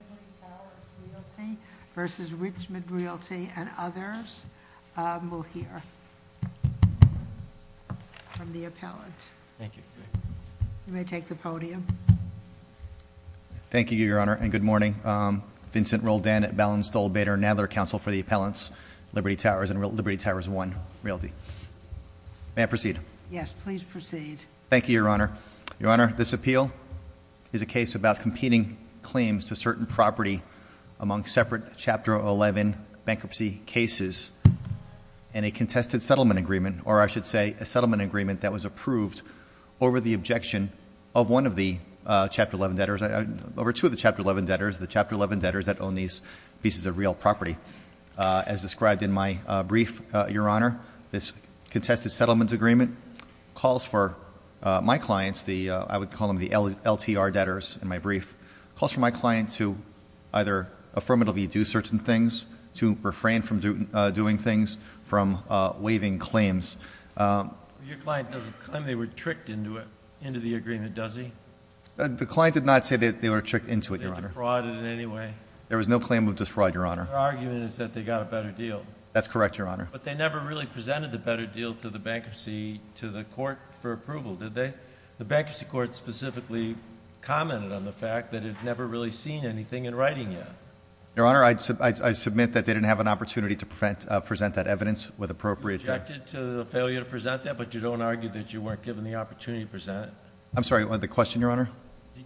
Liberty Towers Realty v. Richmond Realty and others. We'll hear from the appellant. Thank you. You may take the podium. Thank you, Your Honor, and good morning. Vincent Roldan at Ballin, Stoll, Bader, and Nadler Council for the Appellants, Liberty Towers and Liberty Towers 1 Realty. May I proceed? Yes, please proceed. Thank you, Your Honor. Your Honor, this appeal is a case about competing claims to certain property among separate Chapter 11 bankruptcy cases and a contested settlement agreement, or I should say a settlement agreement that was approved over the objection of one of the Chapter 11 debtors, over two of the Chapter 11 debtors, the Chapter 11 debtors that own these pieces of real property. As described in my brief, Your Honor, this contested settlement agreement calls for my clients, I would call them the LTR debtors in my brief, calls for my client to either affirmatively do certain things, to refrain from doing things, from waiving claims. Your client doesn't claim they were tricked into it, into the agreement, does he? The client did not say that they were tricked into it, Your Honor. They defrauded in any way? There was no claim of defraud, Your Honor. Their argument is that they got a better deal. That's correct, Your Honor. But they never really presented the better deal to the bankruptcy, to the court for approval, did they? The bankruptcy court specifically commented on the fact that it had never really seen anything in writing yet. Your Honor, I submit that they didn't have an opportunity to present that evidence with appropriate- You objected to the failure to present that, but you don't argue that you weren't given the opportunity to present it? I'm sorry, what, the question, Your Honor?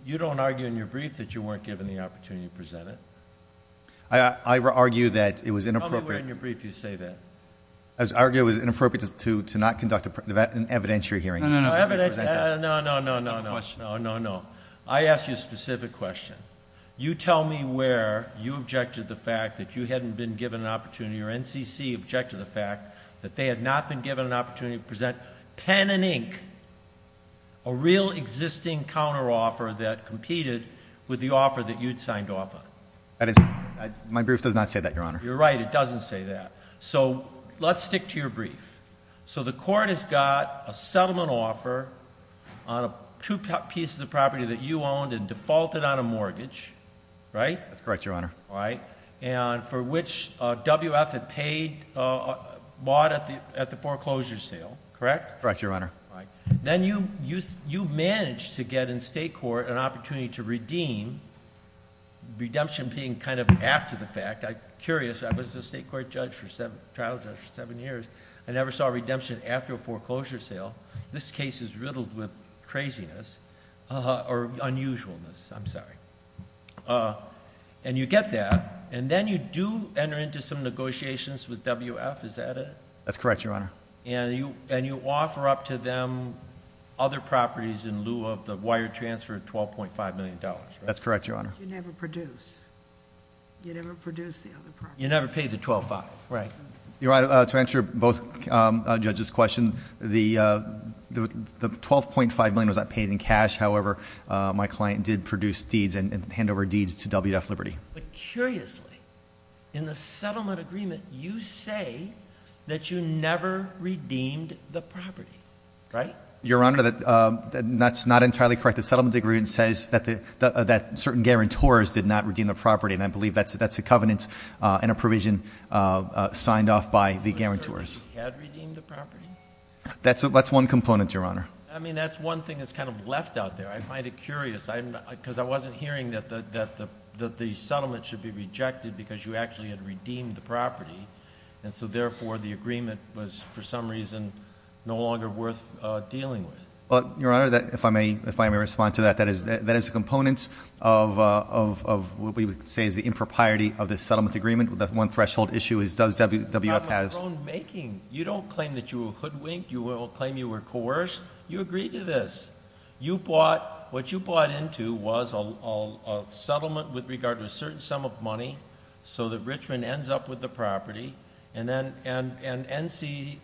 You don't argue in your brief that you weren't given the opportunity to present it? I argue that it was inappropriate- I argue it was inappropriate to not conduct an evidentiary hearing. No, no, no, no, no, no, no, no, no, no, no. I ask you a specific question. You tell me where you objected to the fact that you hadn't been given an opportunity or NCC objected to the fact that they had not been given an opportunity to present pen and ink, a real existing counter offer that competed with the offer that you'd signed off on. That is, my brief does not say that, Your Honor. You're right, it doesn't say that. So, let's stick to your brief. So the court has got a settlement offer on two pieces of property that you owned and defaulted on a mortgage, right? That's correct, Your Honor. All right, and for which WF had bought at the foreclosure sale, correct? Correct, Your Honor. Then you managed to get in state court an opportunity to redeem, redemption being kind of after the fact. I'm curious, I was a state court trial judge for seven years. I never saw redemption after a foreclosure sale. This case is riddled with craziness, or unusualness, I'm sorry. And you get that, and then you do enter into some negotiations with WF, is that it? That's correct, Your Honor. And you offer up to them other properties in lieu of the wire transfer of $12.5 million, right? That's correct, Your Honor. But you never produce. You never produce the other property. You never paid the $12.5, right? You're right, to answer both judges' question, the $12.5 million was not paid in cash. However, my client did produce deeds and hand over deeds to WF Liberty. But curiously, in the settlement agreement, you say that you never redeemed the property, right? Your Honor, that's not entirely correct. The settlement agreement says that certain guarantors did not redeem the property. And I believe that's a covenant and a provision signed off by the guarantors. Had redeemed the property? That's one component, Your Honor. I mean, that's one thing that's kind of left out there. I find it curious, because I wasn't hearing that the settlement should be rejected because you actually had redeemed the property. And so therefore, the agreement was, for some reason, no longer worth dealing with. But, Your Honor, if I may respond to that, that is a component of what we would say is the impropriety of the settlement agreement. The one threshold issue is does WF has- It's not my own making. You don't claim that you were hoodwinked. You claim you were coerced. You agreed to this. What you bought into was a settlement with regard to a certain sum of money, so that Richmond ends up with the property, and NCC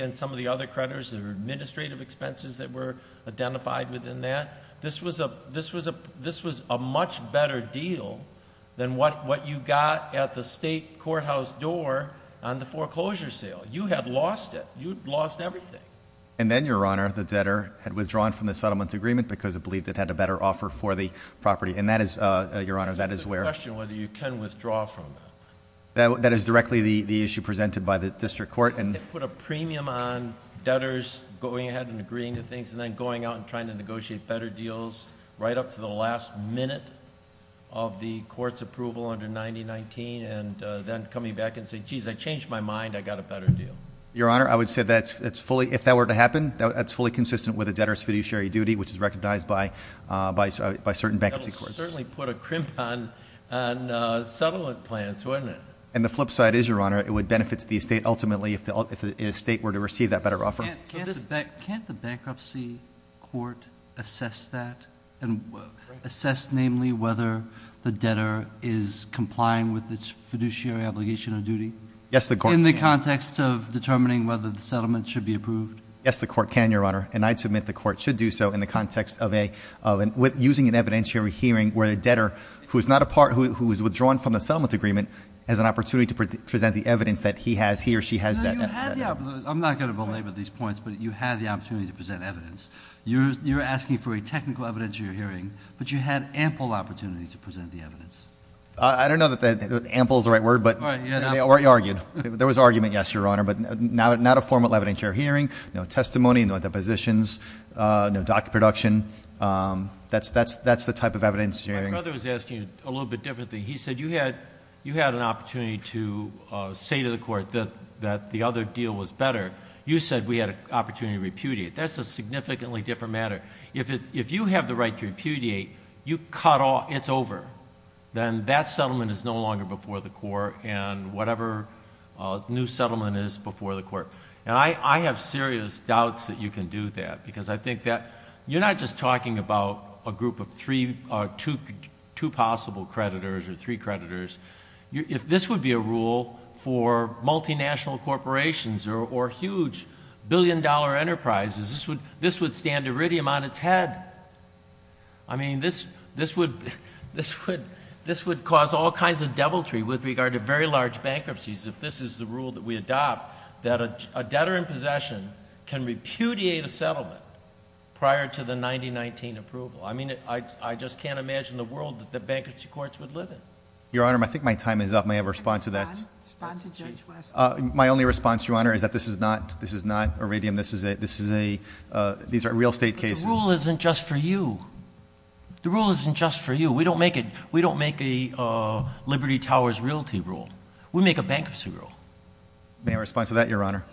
and some of the other creditors, their administrative expenses that were identified within that. This was a much better deal than what you got at the state courthouse door on the foreclosure sale. You had lost it. You'd lost everything. And then, Your Honor, the debtor had withdrawn from the settlement agreement because it believed it had a better offer for the property. And that is, Your Honor, that is where- It's a question whether you can withdraw from it. That is directly the issue presented by the district court. And- Put a premium on debtors going ahead and agreeing to things, and then going out and trying to negotiate better deals right up to the last minute of the court's approval under 9019. And then coming back and saying, jeez, I changed my mind, I got a better deal. Your Honor, I would say that's fully, if that were to happen, that's fully consistent with a debtor's fiduciary duty, which is recognized by certain bankruptcy courts. It certainly put a crimp on settlement plans, wouldn't it? And the flip side is, Your Honor, it would benefit the estate ultimately if the estate were to receive that better offer. Can't the bankruptcy court assess that? And assess namely whether the debtor is complying with its fiduciary obligation of duty? Yes, the court- In the context of determining whether the settlement should be approved? Yes, the court can, Your Honor. And I submit the court should do so in the context of using an evidentiary hearing where a debtor who is not a part, who is withdrawn from the settlement agreement, has an opportunity to present the evidence that he has, he or she has that evidence. I'm not going to belabor these points, but you had the opportunity to present evidence. You're asking for a technical evidence of your hearing, but you had ample opportunity to present the evidence. I don't know that ample is the right word, but- Right, yeah, no. No testimony, no depositions, no docket production, that's the type of evidence you're hearing. My brother was asking a little bit different thing. He said you had an opportunity to say to the court that the other deal was better. You said we had an opportunity to repudiate. That's a significantly different matter. If you have the right to repudiate, you cut off, it's over. Then that settlement is no longer before the court, and whatever new settlement is before the court. And I have serious doubts that you can do that, because I think that you're not just talking about a group of three or two possible creditors or three creditors. If this would be a rule for multinational corporations or huge billion dollar enterprises, this would stand Iridium on its head. I mean, this would cause all kinds of deviltry with regard to very large bankruptcies. If this is the rule that we adopt, that a debtor in possession can repudiate a settlement prior to the 9019 approval. I mean, I just can't imagine the world that the bankruptcy courts would live in. Your Honor, I think my time is up. May I have a response to that? Respond to Judge West. My only response, Your Honor, is that this is not Iridium. This is a, these are real estate cases. The rule isn't just for you. The rule isn't just for you. We don't make a Liberty Towers realty rule. We make a bankruptcy rule. May I respond to that, Your Honor?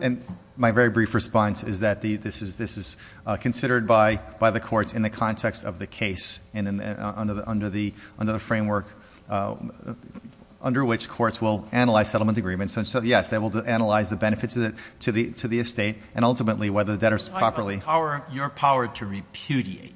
And my very brief response is that this is considered by the courts in the context of the case. And under the framework under which courts will analyze settlement agreements. And so yes, they will analyze the benefits to the estate and ultimately whether the debtor's properly. Your power to repudiate,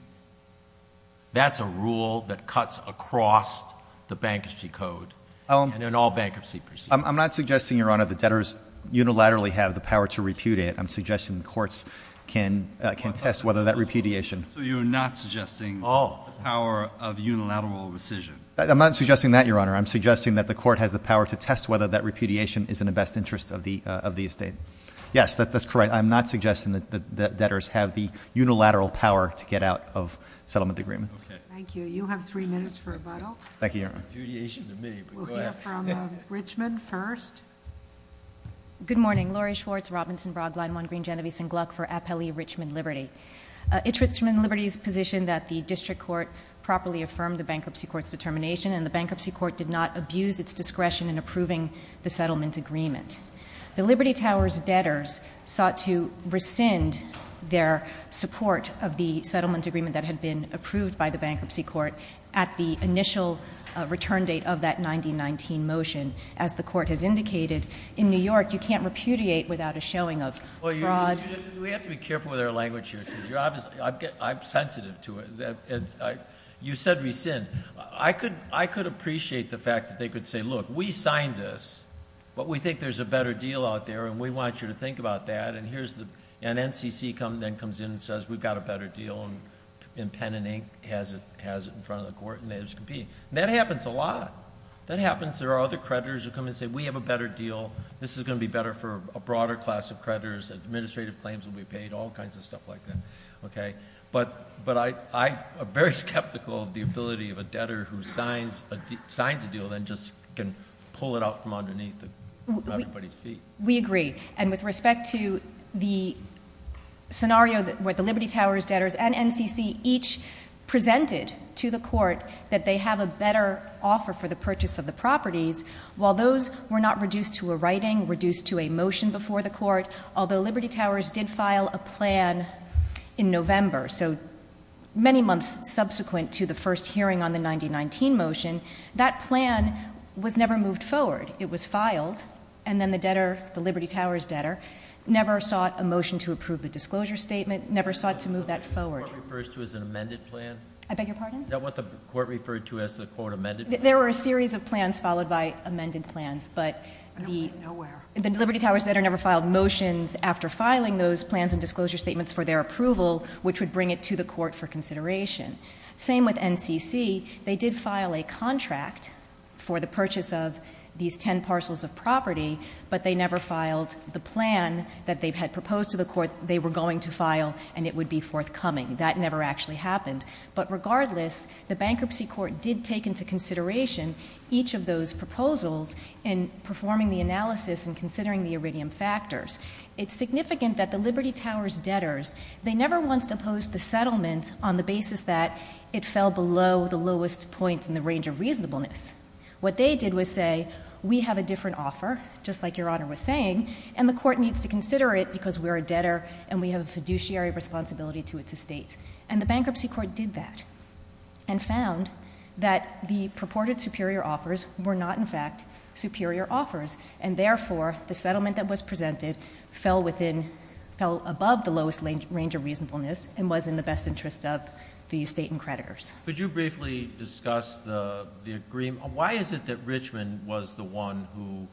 that's a rule that cuts across the bankruptcy code. And in all bankruptcy proceedings. I'm not suggesting, Your Honor, that debtors unilaterally have the power to repudiate. I'm suggesting the courts can test whether that repudiation. So you're not suggesting the power of unilateral rescission? I'm not suggesting that, Your Honor. I'm suggesting that the court has the power to test whether that repudiation is in the best interest of the estate. Yes, that's correct. I'm not suggesting that debtors have the unilateral power to get out of settlement agreements. Thank you, Your Honor. Repudiation to me, but go ahead. We'll hear from Richmond first. Good morning, Laurie Schwartz, Robinson Broadline, one green Genevieve Sengluck for Appellee Richmond Liberty. It's Richmond Liberty's position that the district court properly affirmed the bankruptcy court's determination and the bankruptcy court did not abuse its discretion in approving the settlement agreement. The Liberty Tower's debtors sought to rescind their support of the settlement agreement that had been approved by the bankruptcy court at the initial return date of that 1919 motion. As the court has indicated, in New York, you can't repudiate without a showing of fraud. We have to be careful with our language here, because I'm sensitive to it. You said rescind. I could appreciate the fact that they could say, look, we signed this, but we think there's a better deal out there, and we want you to think about that. And NCC then comes in and says, we've got a better deal, and Pen and Ink has it in front of the court, and they're just competing. That happens a lot. That happens. There are other creditors who come in and say, we have a better deal. This is going to be better for a broader class of creditors. Administrative claims will be paid, all kinds of stuff like that, okay? But I'm very skeptical of the ability of a debtor who signs a deal and just can pull it out from underneath everybody's feet. We agree, and with respect to the scenario where the Liberty Towers debtors and NCC each presented to the court that they have a better offer for the purchase of the properties. While those were not reduced to a writing, reduced to a motion before the court, although Liberty Towers did file a plan in November, so many months subsequent to the first hearing on the 9019 motion, that plan was never moved forward. It was filed, and then the debtor, the Liberty Towers debtor, never sought a motion to approve the disclosure statement, never sought to move that forward. What the court refers to as an amended plan? I beg your pardon? Is that what the court referred to as the court amended plan? There were a series of plans followed by amended plans, but the- Nowhere. The Liberty Towers debtor never filed motions after filing those plans and disclosure statements for their approval, which would bring it to the court for consideration. Same with NCC, they did file a contract for the purchase of these ten parcels of property, but they never filed the plan that they had proposed to the court they were going to file, and it would be forthcoming. That never actually happened. But regardless, the bankruptcy court did take into consideration each of those proposals in performing the analysis and considering the iridium factors. It's significant that the Liberty Towers debtors, they never once opposed the settlement on the basis that it fell below the lowest point in the range of reasonableness. What they did was say, we have a different offer, just like your honor was saying, and the court needs to consider it because we're a debtor and we have a fiduciary responsibility to its estate. And the bankruptcy court did that and found that the purported superior offers were not in fact superior offers. And therefore, the settlement that was presented fell above the lowest range of reasonableness and was in the best interest of the estate and creditors. Could you briefly discuss the agreement? Why is it that Richmond was the one who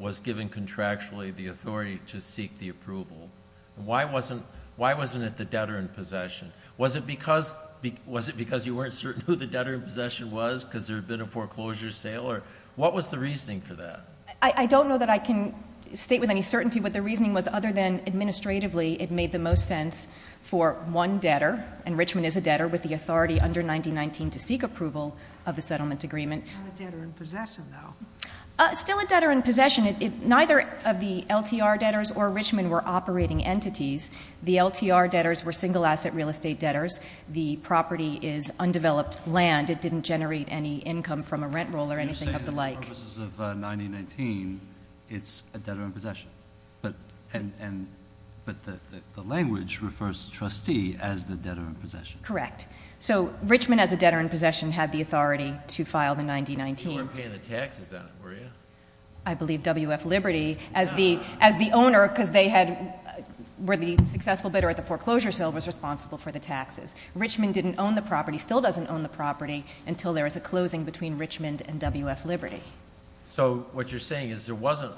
was given contractually the authority to seek the approval? Why wasn't it the debtor in possession? Was it because you weren't certain who the debtor in possession was because there had been a foreclosure sale? What was the reasoning for that? I don't know that I can state with any certainty what the reasoning was other than administratively, it made the most sense for one debtor. And Richmond is a debtor with the authority under 1919 to seek approval of the settlement agreement. Still a debtor in possession though. Still a debtor in possession. Neither of the LTR debtors or Richmond were operating entities. The LTR debtors were single asset real estate debtors. The property is undeveloped land. It didn't generate any income from a rent roll or anything of the like. For purposes of 1919, it's a debtor in possession. But the language refers to trustee as the debtor in possession. Correct. So, Richmond as a debtor in possession had the authority to file the 1919. You weren't paying the taxes on it, were you? I believe WF Liberty, as the owner, because they were the successful bidder at the foreclosure sale, was responsible for the taxes. Richmond didn't own the property, still doesn't own the property until there is a closing between Richmond and WF Liberty. So, what you're saying is there wasn't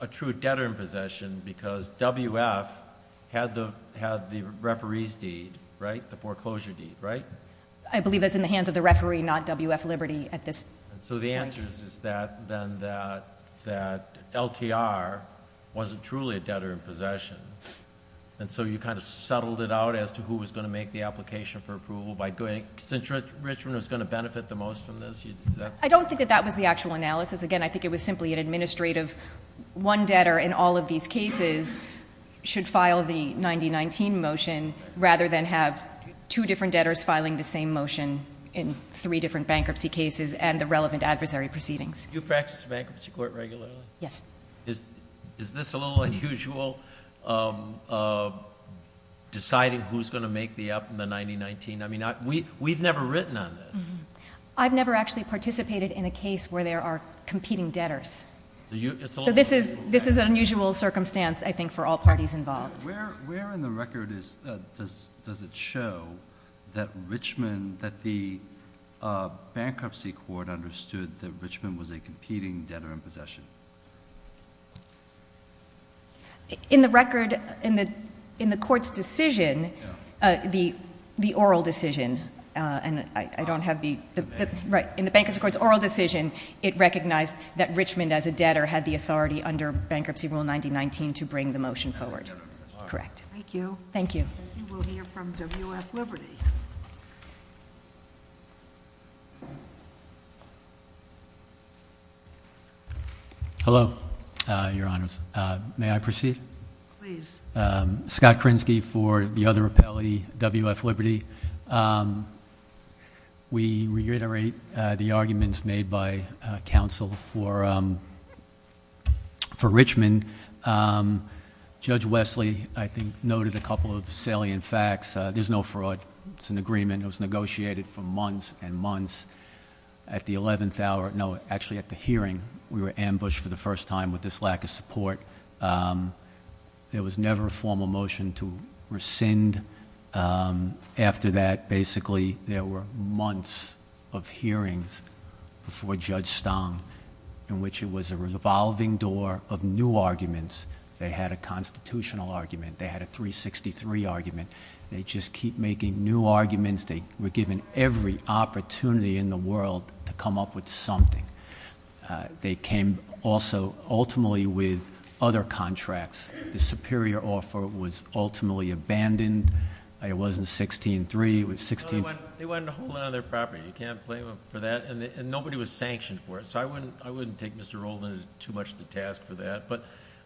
a true debtor in possession because WF had the referee's deed, right? The foreclosure deed, right? I believe that's in the hands of the referee, not WF Liberty at this point. So, the answer is that LTR wasn't truly a debtor in possession. And so, you kind of settled it out as to who was going to make the application for approval. Since Richmond was going to benefit the most from this, that's- I don't think that that was the actual analysis. Again, I think it was simply an administrative one debtor in all of these cases should file the 1919 motion rather than have two different debtors filing the same motion in three different bankruptcy cases and the relevant adversary proceedings. Do you practice bankruptcy court regularly? Yes. Is this a little unusual, deciding who's going to make the up in the 1919? I mean, we've never written on this. I've never actually participated in a case where there are competing debtors. So, this is an unusual circumstance, I think, for all parties involved. Where in the record does it show that Richmond, that the bankruptcy court understood that Richmond was a competing debtor in possession? In the record, in the court's decision, the oral decision, and I don't have the- Right, in the bankruptcy court's oral decision, it recognized that Richmond, as a debtor, had the authority under Bankruptcy Rule 1919 to bring the motion forward. Correct. Thank you. Thank you. We'll hear from W.F. Liberty. Hello, Your Honors. May I proceed? Please. Scott Krinsky for the other appellee, W.F. Liberty. We reiterate the arguments made by counsel for Richmond. And Judge Wesley, I think, noted a couple of salient facts. There's no fraud. It's an agreement that was negotiated for months and months. At the 11th hour, no, actually at the hearing, we were ambushed for the first time with this lack of support. There was never a formal motion to rescind. After that, basically, there were months of hearings before Judge Stong, in which it was a revolving door of new arguments. They had a constitutional argument. They had a 363 argument. They just keep making new arguments. They were given every opportunity in the world to come up with something. They came also, ultimately, with other contracts. The superior offer was ultimately abandoned. It wasn't 16-3, it was 16- No, they wanted to hold it on their property. You can't blame them for that. And nobody was sanctioned for it. I wouldn't take Mr. Rolden too much of the task for that, but-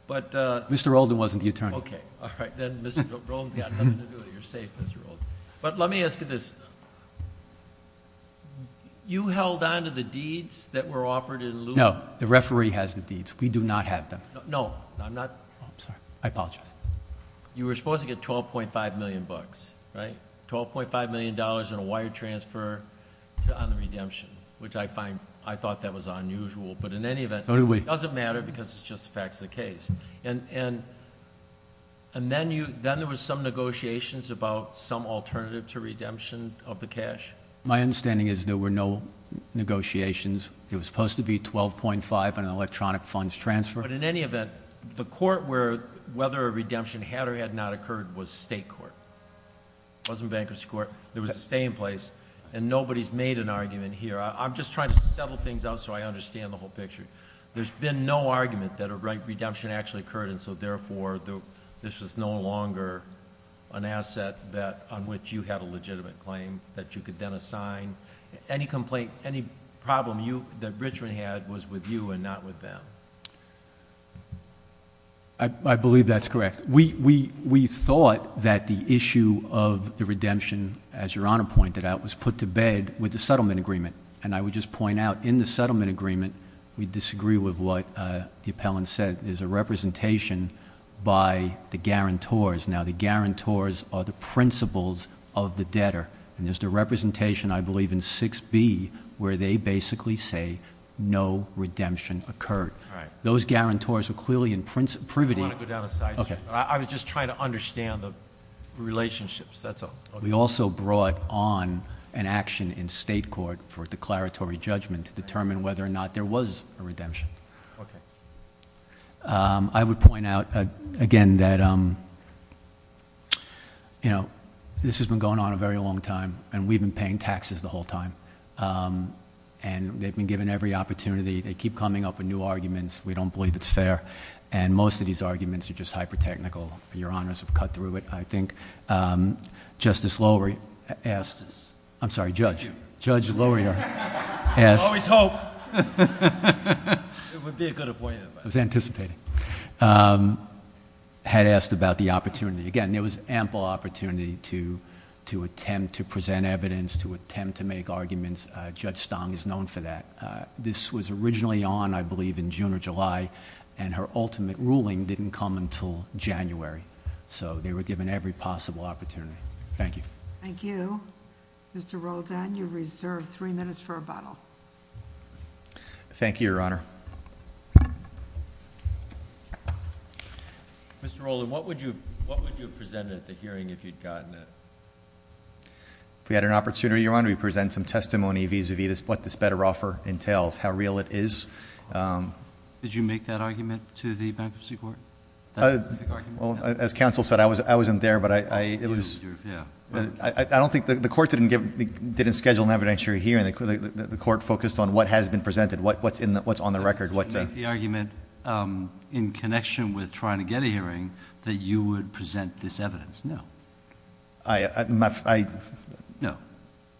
Mr. Rolden wasn't the attorney. Okay, all right, then Mr. Rolden's got nothing to do with it. You're safe, Mr. Rolden. But let me ask you this. You held on to the deeds that were offered in lieu of- No, the referee has the deeds. We do not have them. No, I'm not, I'm sorry, I apologize. You were supposed to get 12.5 million bucks, right? Which I find, I thought that was unusual. But in any event- So do we. It doesn't matter because it's just the facts of the case. And then there was some negotiations about some alternative to redemption of the cash? My understanding is there were no negotiations. It was supposed to be 12.5 and an electronic funds transfer. But in any event, the court where whether a redemption had or had not occurred was state court. It wasn't bankruptcy court. There was a stay in place. And nobody's made an argument here. I'm just trying to settle things out so I understand the whole picture. There's been no argument that a redemption actually occurred, and so therefore, this is no longer an asset on which you have a legitimate claim that you could then assign. Any complaint, any problem that Richmond had was with you and not with them. I believe that's correct. We thought that the issue of the redemption, as your honor pointed out, was put to bed with the settlement agreement. And I would just point out, in the settlement agreement, we disagree with what the appellant said. There's a representation by the guarantors. Now, the guarantors are the principles of the debtor. And there's the representation, I believe, in 6B, where they basically say no redemption occurred. Those guarantors are clearly in privity. I want to go down a side. Okay. I was just trying to understand the relationships. That's all. We also brought on an action in state court for declaratory judgment to determine whether or not there was a redemption. Okay. I would point out, again, that this has been going on a very long time, and we've been paying taxes the whole time. And they've been given every opportunity. They keep coming up with new arguments. We don't believe it's fair. And most of these arguments are just hyper-technical. Your honors have cut through it, I think. Justice Lowery asked us, I'm sorry, Judge. Judge Lowery asked- Always hope. It would be a good appointment. I was anticipating. Had asked about the opportunity. Again, there was ample opportunity to attempt to present evidence, to attempt to make arguments. Judge Stong is known for that. This was originally on, I believe, in June or July. And her ultimate ruling didn't come until January. So they were given every possible opportunity. Thank you. Thank you. Mr. Roldan, you're reserved three minutes for rebuttal. Thank you, Your Honor. Mr. Roland, what would you have presented at the hearing if you'd gotten it? If we had an opportunity, Your Honor, we'd present some testimony vis-a-vis what this better offer entails, how real it is. Did you make that argument to the bankruptcy court? That's a specific argument? As counsel said, I wasn't there, but I don't think the court didn't schedule an evidentiary hearing. The court focused on what has been presented, what's on the record. Did you make the argument in connection with trying to get a hearing that you would present this evidence? No. No.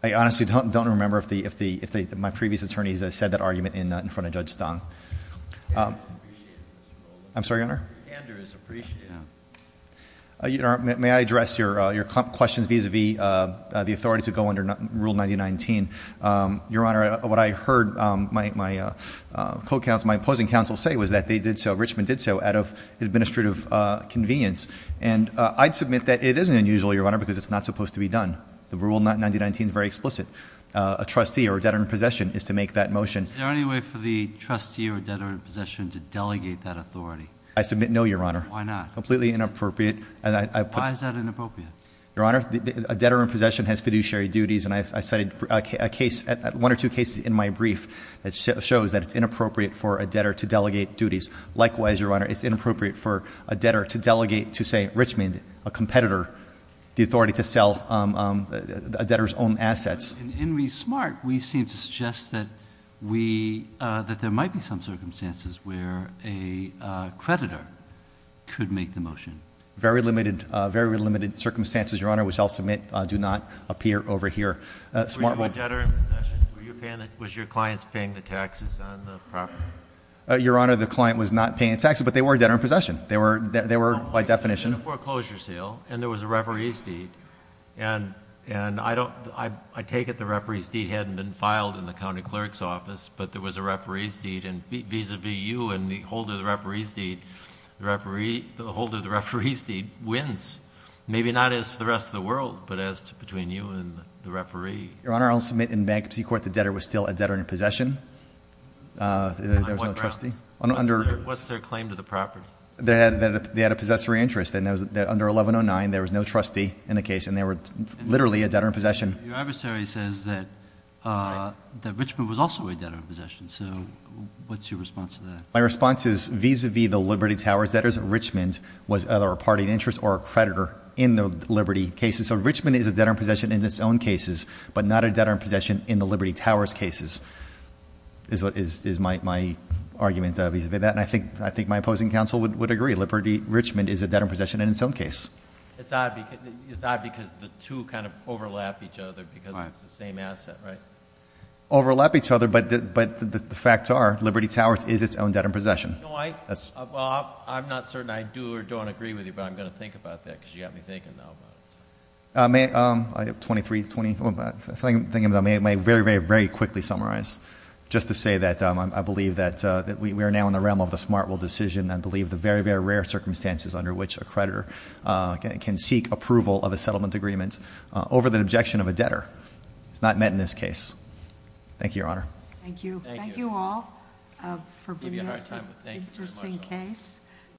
I honestly don't remember if my previous attorneys said that argument in front of Judge Stong. I'm sorry, Your Honor? Your hander is appreciated, Your Honor. May I address your questions vis-a-vis the authority to go under Rule 9019? Your Honor, what I heard my opposing counsel say was that they did so, Richmond did so, out of administrative convenience. And I'd submit that it isn't unusual, Your Honor, because it's not supposed to be done. The Rule 9019 is very explicit. A trustee or debtor in possession is to make that motion. Is there any way for the trustee or debtor in possession to delegate that authority? I submit no, Your Honor. Why not? Completely inappropriate. And I- Why is that inappropriate? Your Honor, a debtor in possession has fiduciary duties, and I cited one or two cases in my brief that shows that it's inappropriate for a debtor to delegate duties. Likewise, Your Honor, it's inappropriate for a debtor to delegate to, say, Richmond, a competitor, the authority to sell a debtor's own assets. In re-SMART, we seem to suggest that there might be some circumstances where a creditor could make the motion. Very limited, very limited circumstances, Your Honor, which I'll submit do not appear over here. SMART will- Were you a debtor in possession? Was your clients paying the taxes on the property? Your Honor, the client was not paying taxes, but they were a debtor in possession. They were, by definition- It was a foreclosure sale, and there was a referee's deed. And I take it the referee's deed hadn't been filed in the county clerk's office, but there was a referee's deed. And vis-a-vis you and the holder of the referee's deed, the holder of the referee's deed wins. Maybe not as to the rest of the world, but as to between you and the referee. Your Honor, I'll submit in bankruptcy court the debtor was still a debtor in possession. There was no trustee. Under- What's their claim to the property? They had a possessory interest, and under 1109, there was no trustee in the case, and they were literally a debtor in possession. Your adversary says that Richmond was also a debtor in possession, so what's your response to that? My response is, vis-a-vis the Liberty Towers debtors, Richmond was either a party in interest or a creditor in the Liberty cases. So Richmond is a debtor in possession in its own cases, but not a debtor in possession in the Liberty Towers cases, is my argument vis-a-vis that. And I think my opposing counsel would agree, Liberty Richmond is a debtor in possession in its own case. It's odd because the two kind of overlap each other because it's the same asset, right? Overlap each other, but the facts are, Liberty Towers is its own debtor in possession. No, I'm not certain I do or don't agree with you, but I'm going to think about that because you got me thinking now about it. I have 23, 20, I'm thinking about it, I may very, very, very quickly summarize. Just to say that I believe that we are now in the realm of the smart rule decision. I believe the very, very rare circumstances under which a creditor can seek approval of a settlement agreement over the objection of a debtor. It's not met in this case. Thank you, Your Honor. Thank you. Thank you all for bringing this interesting case.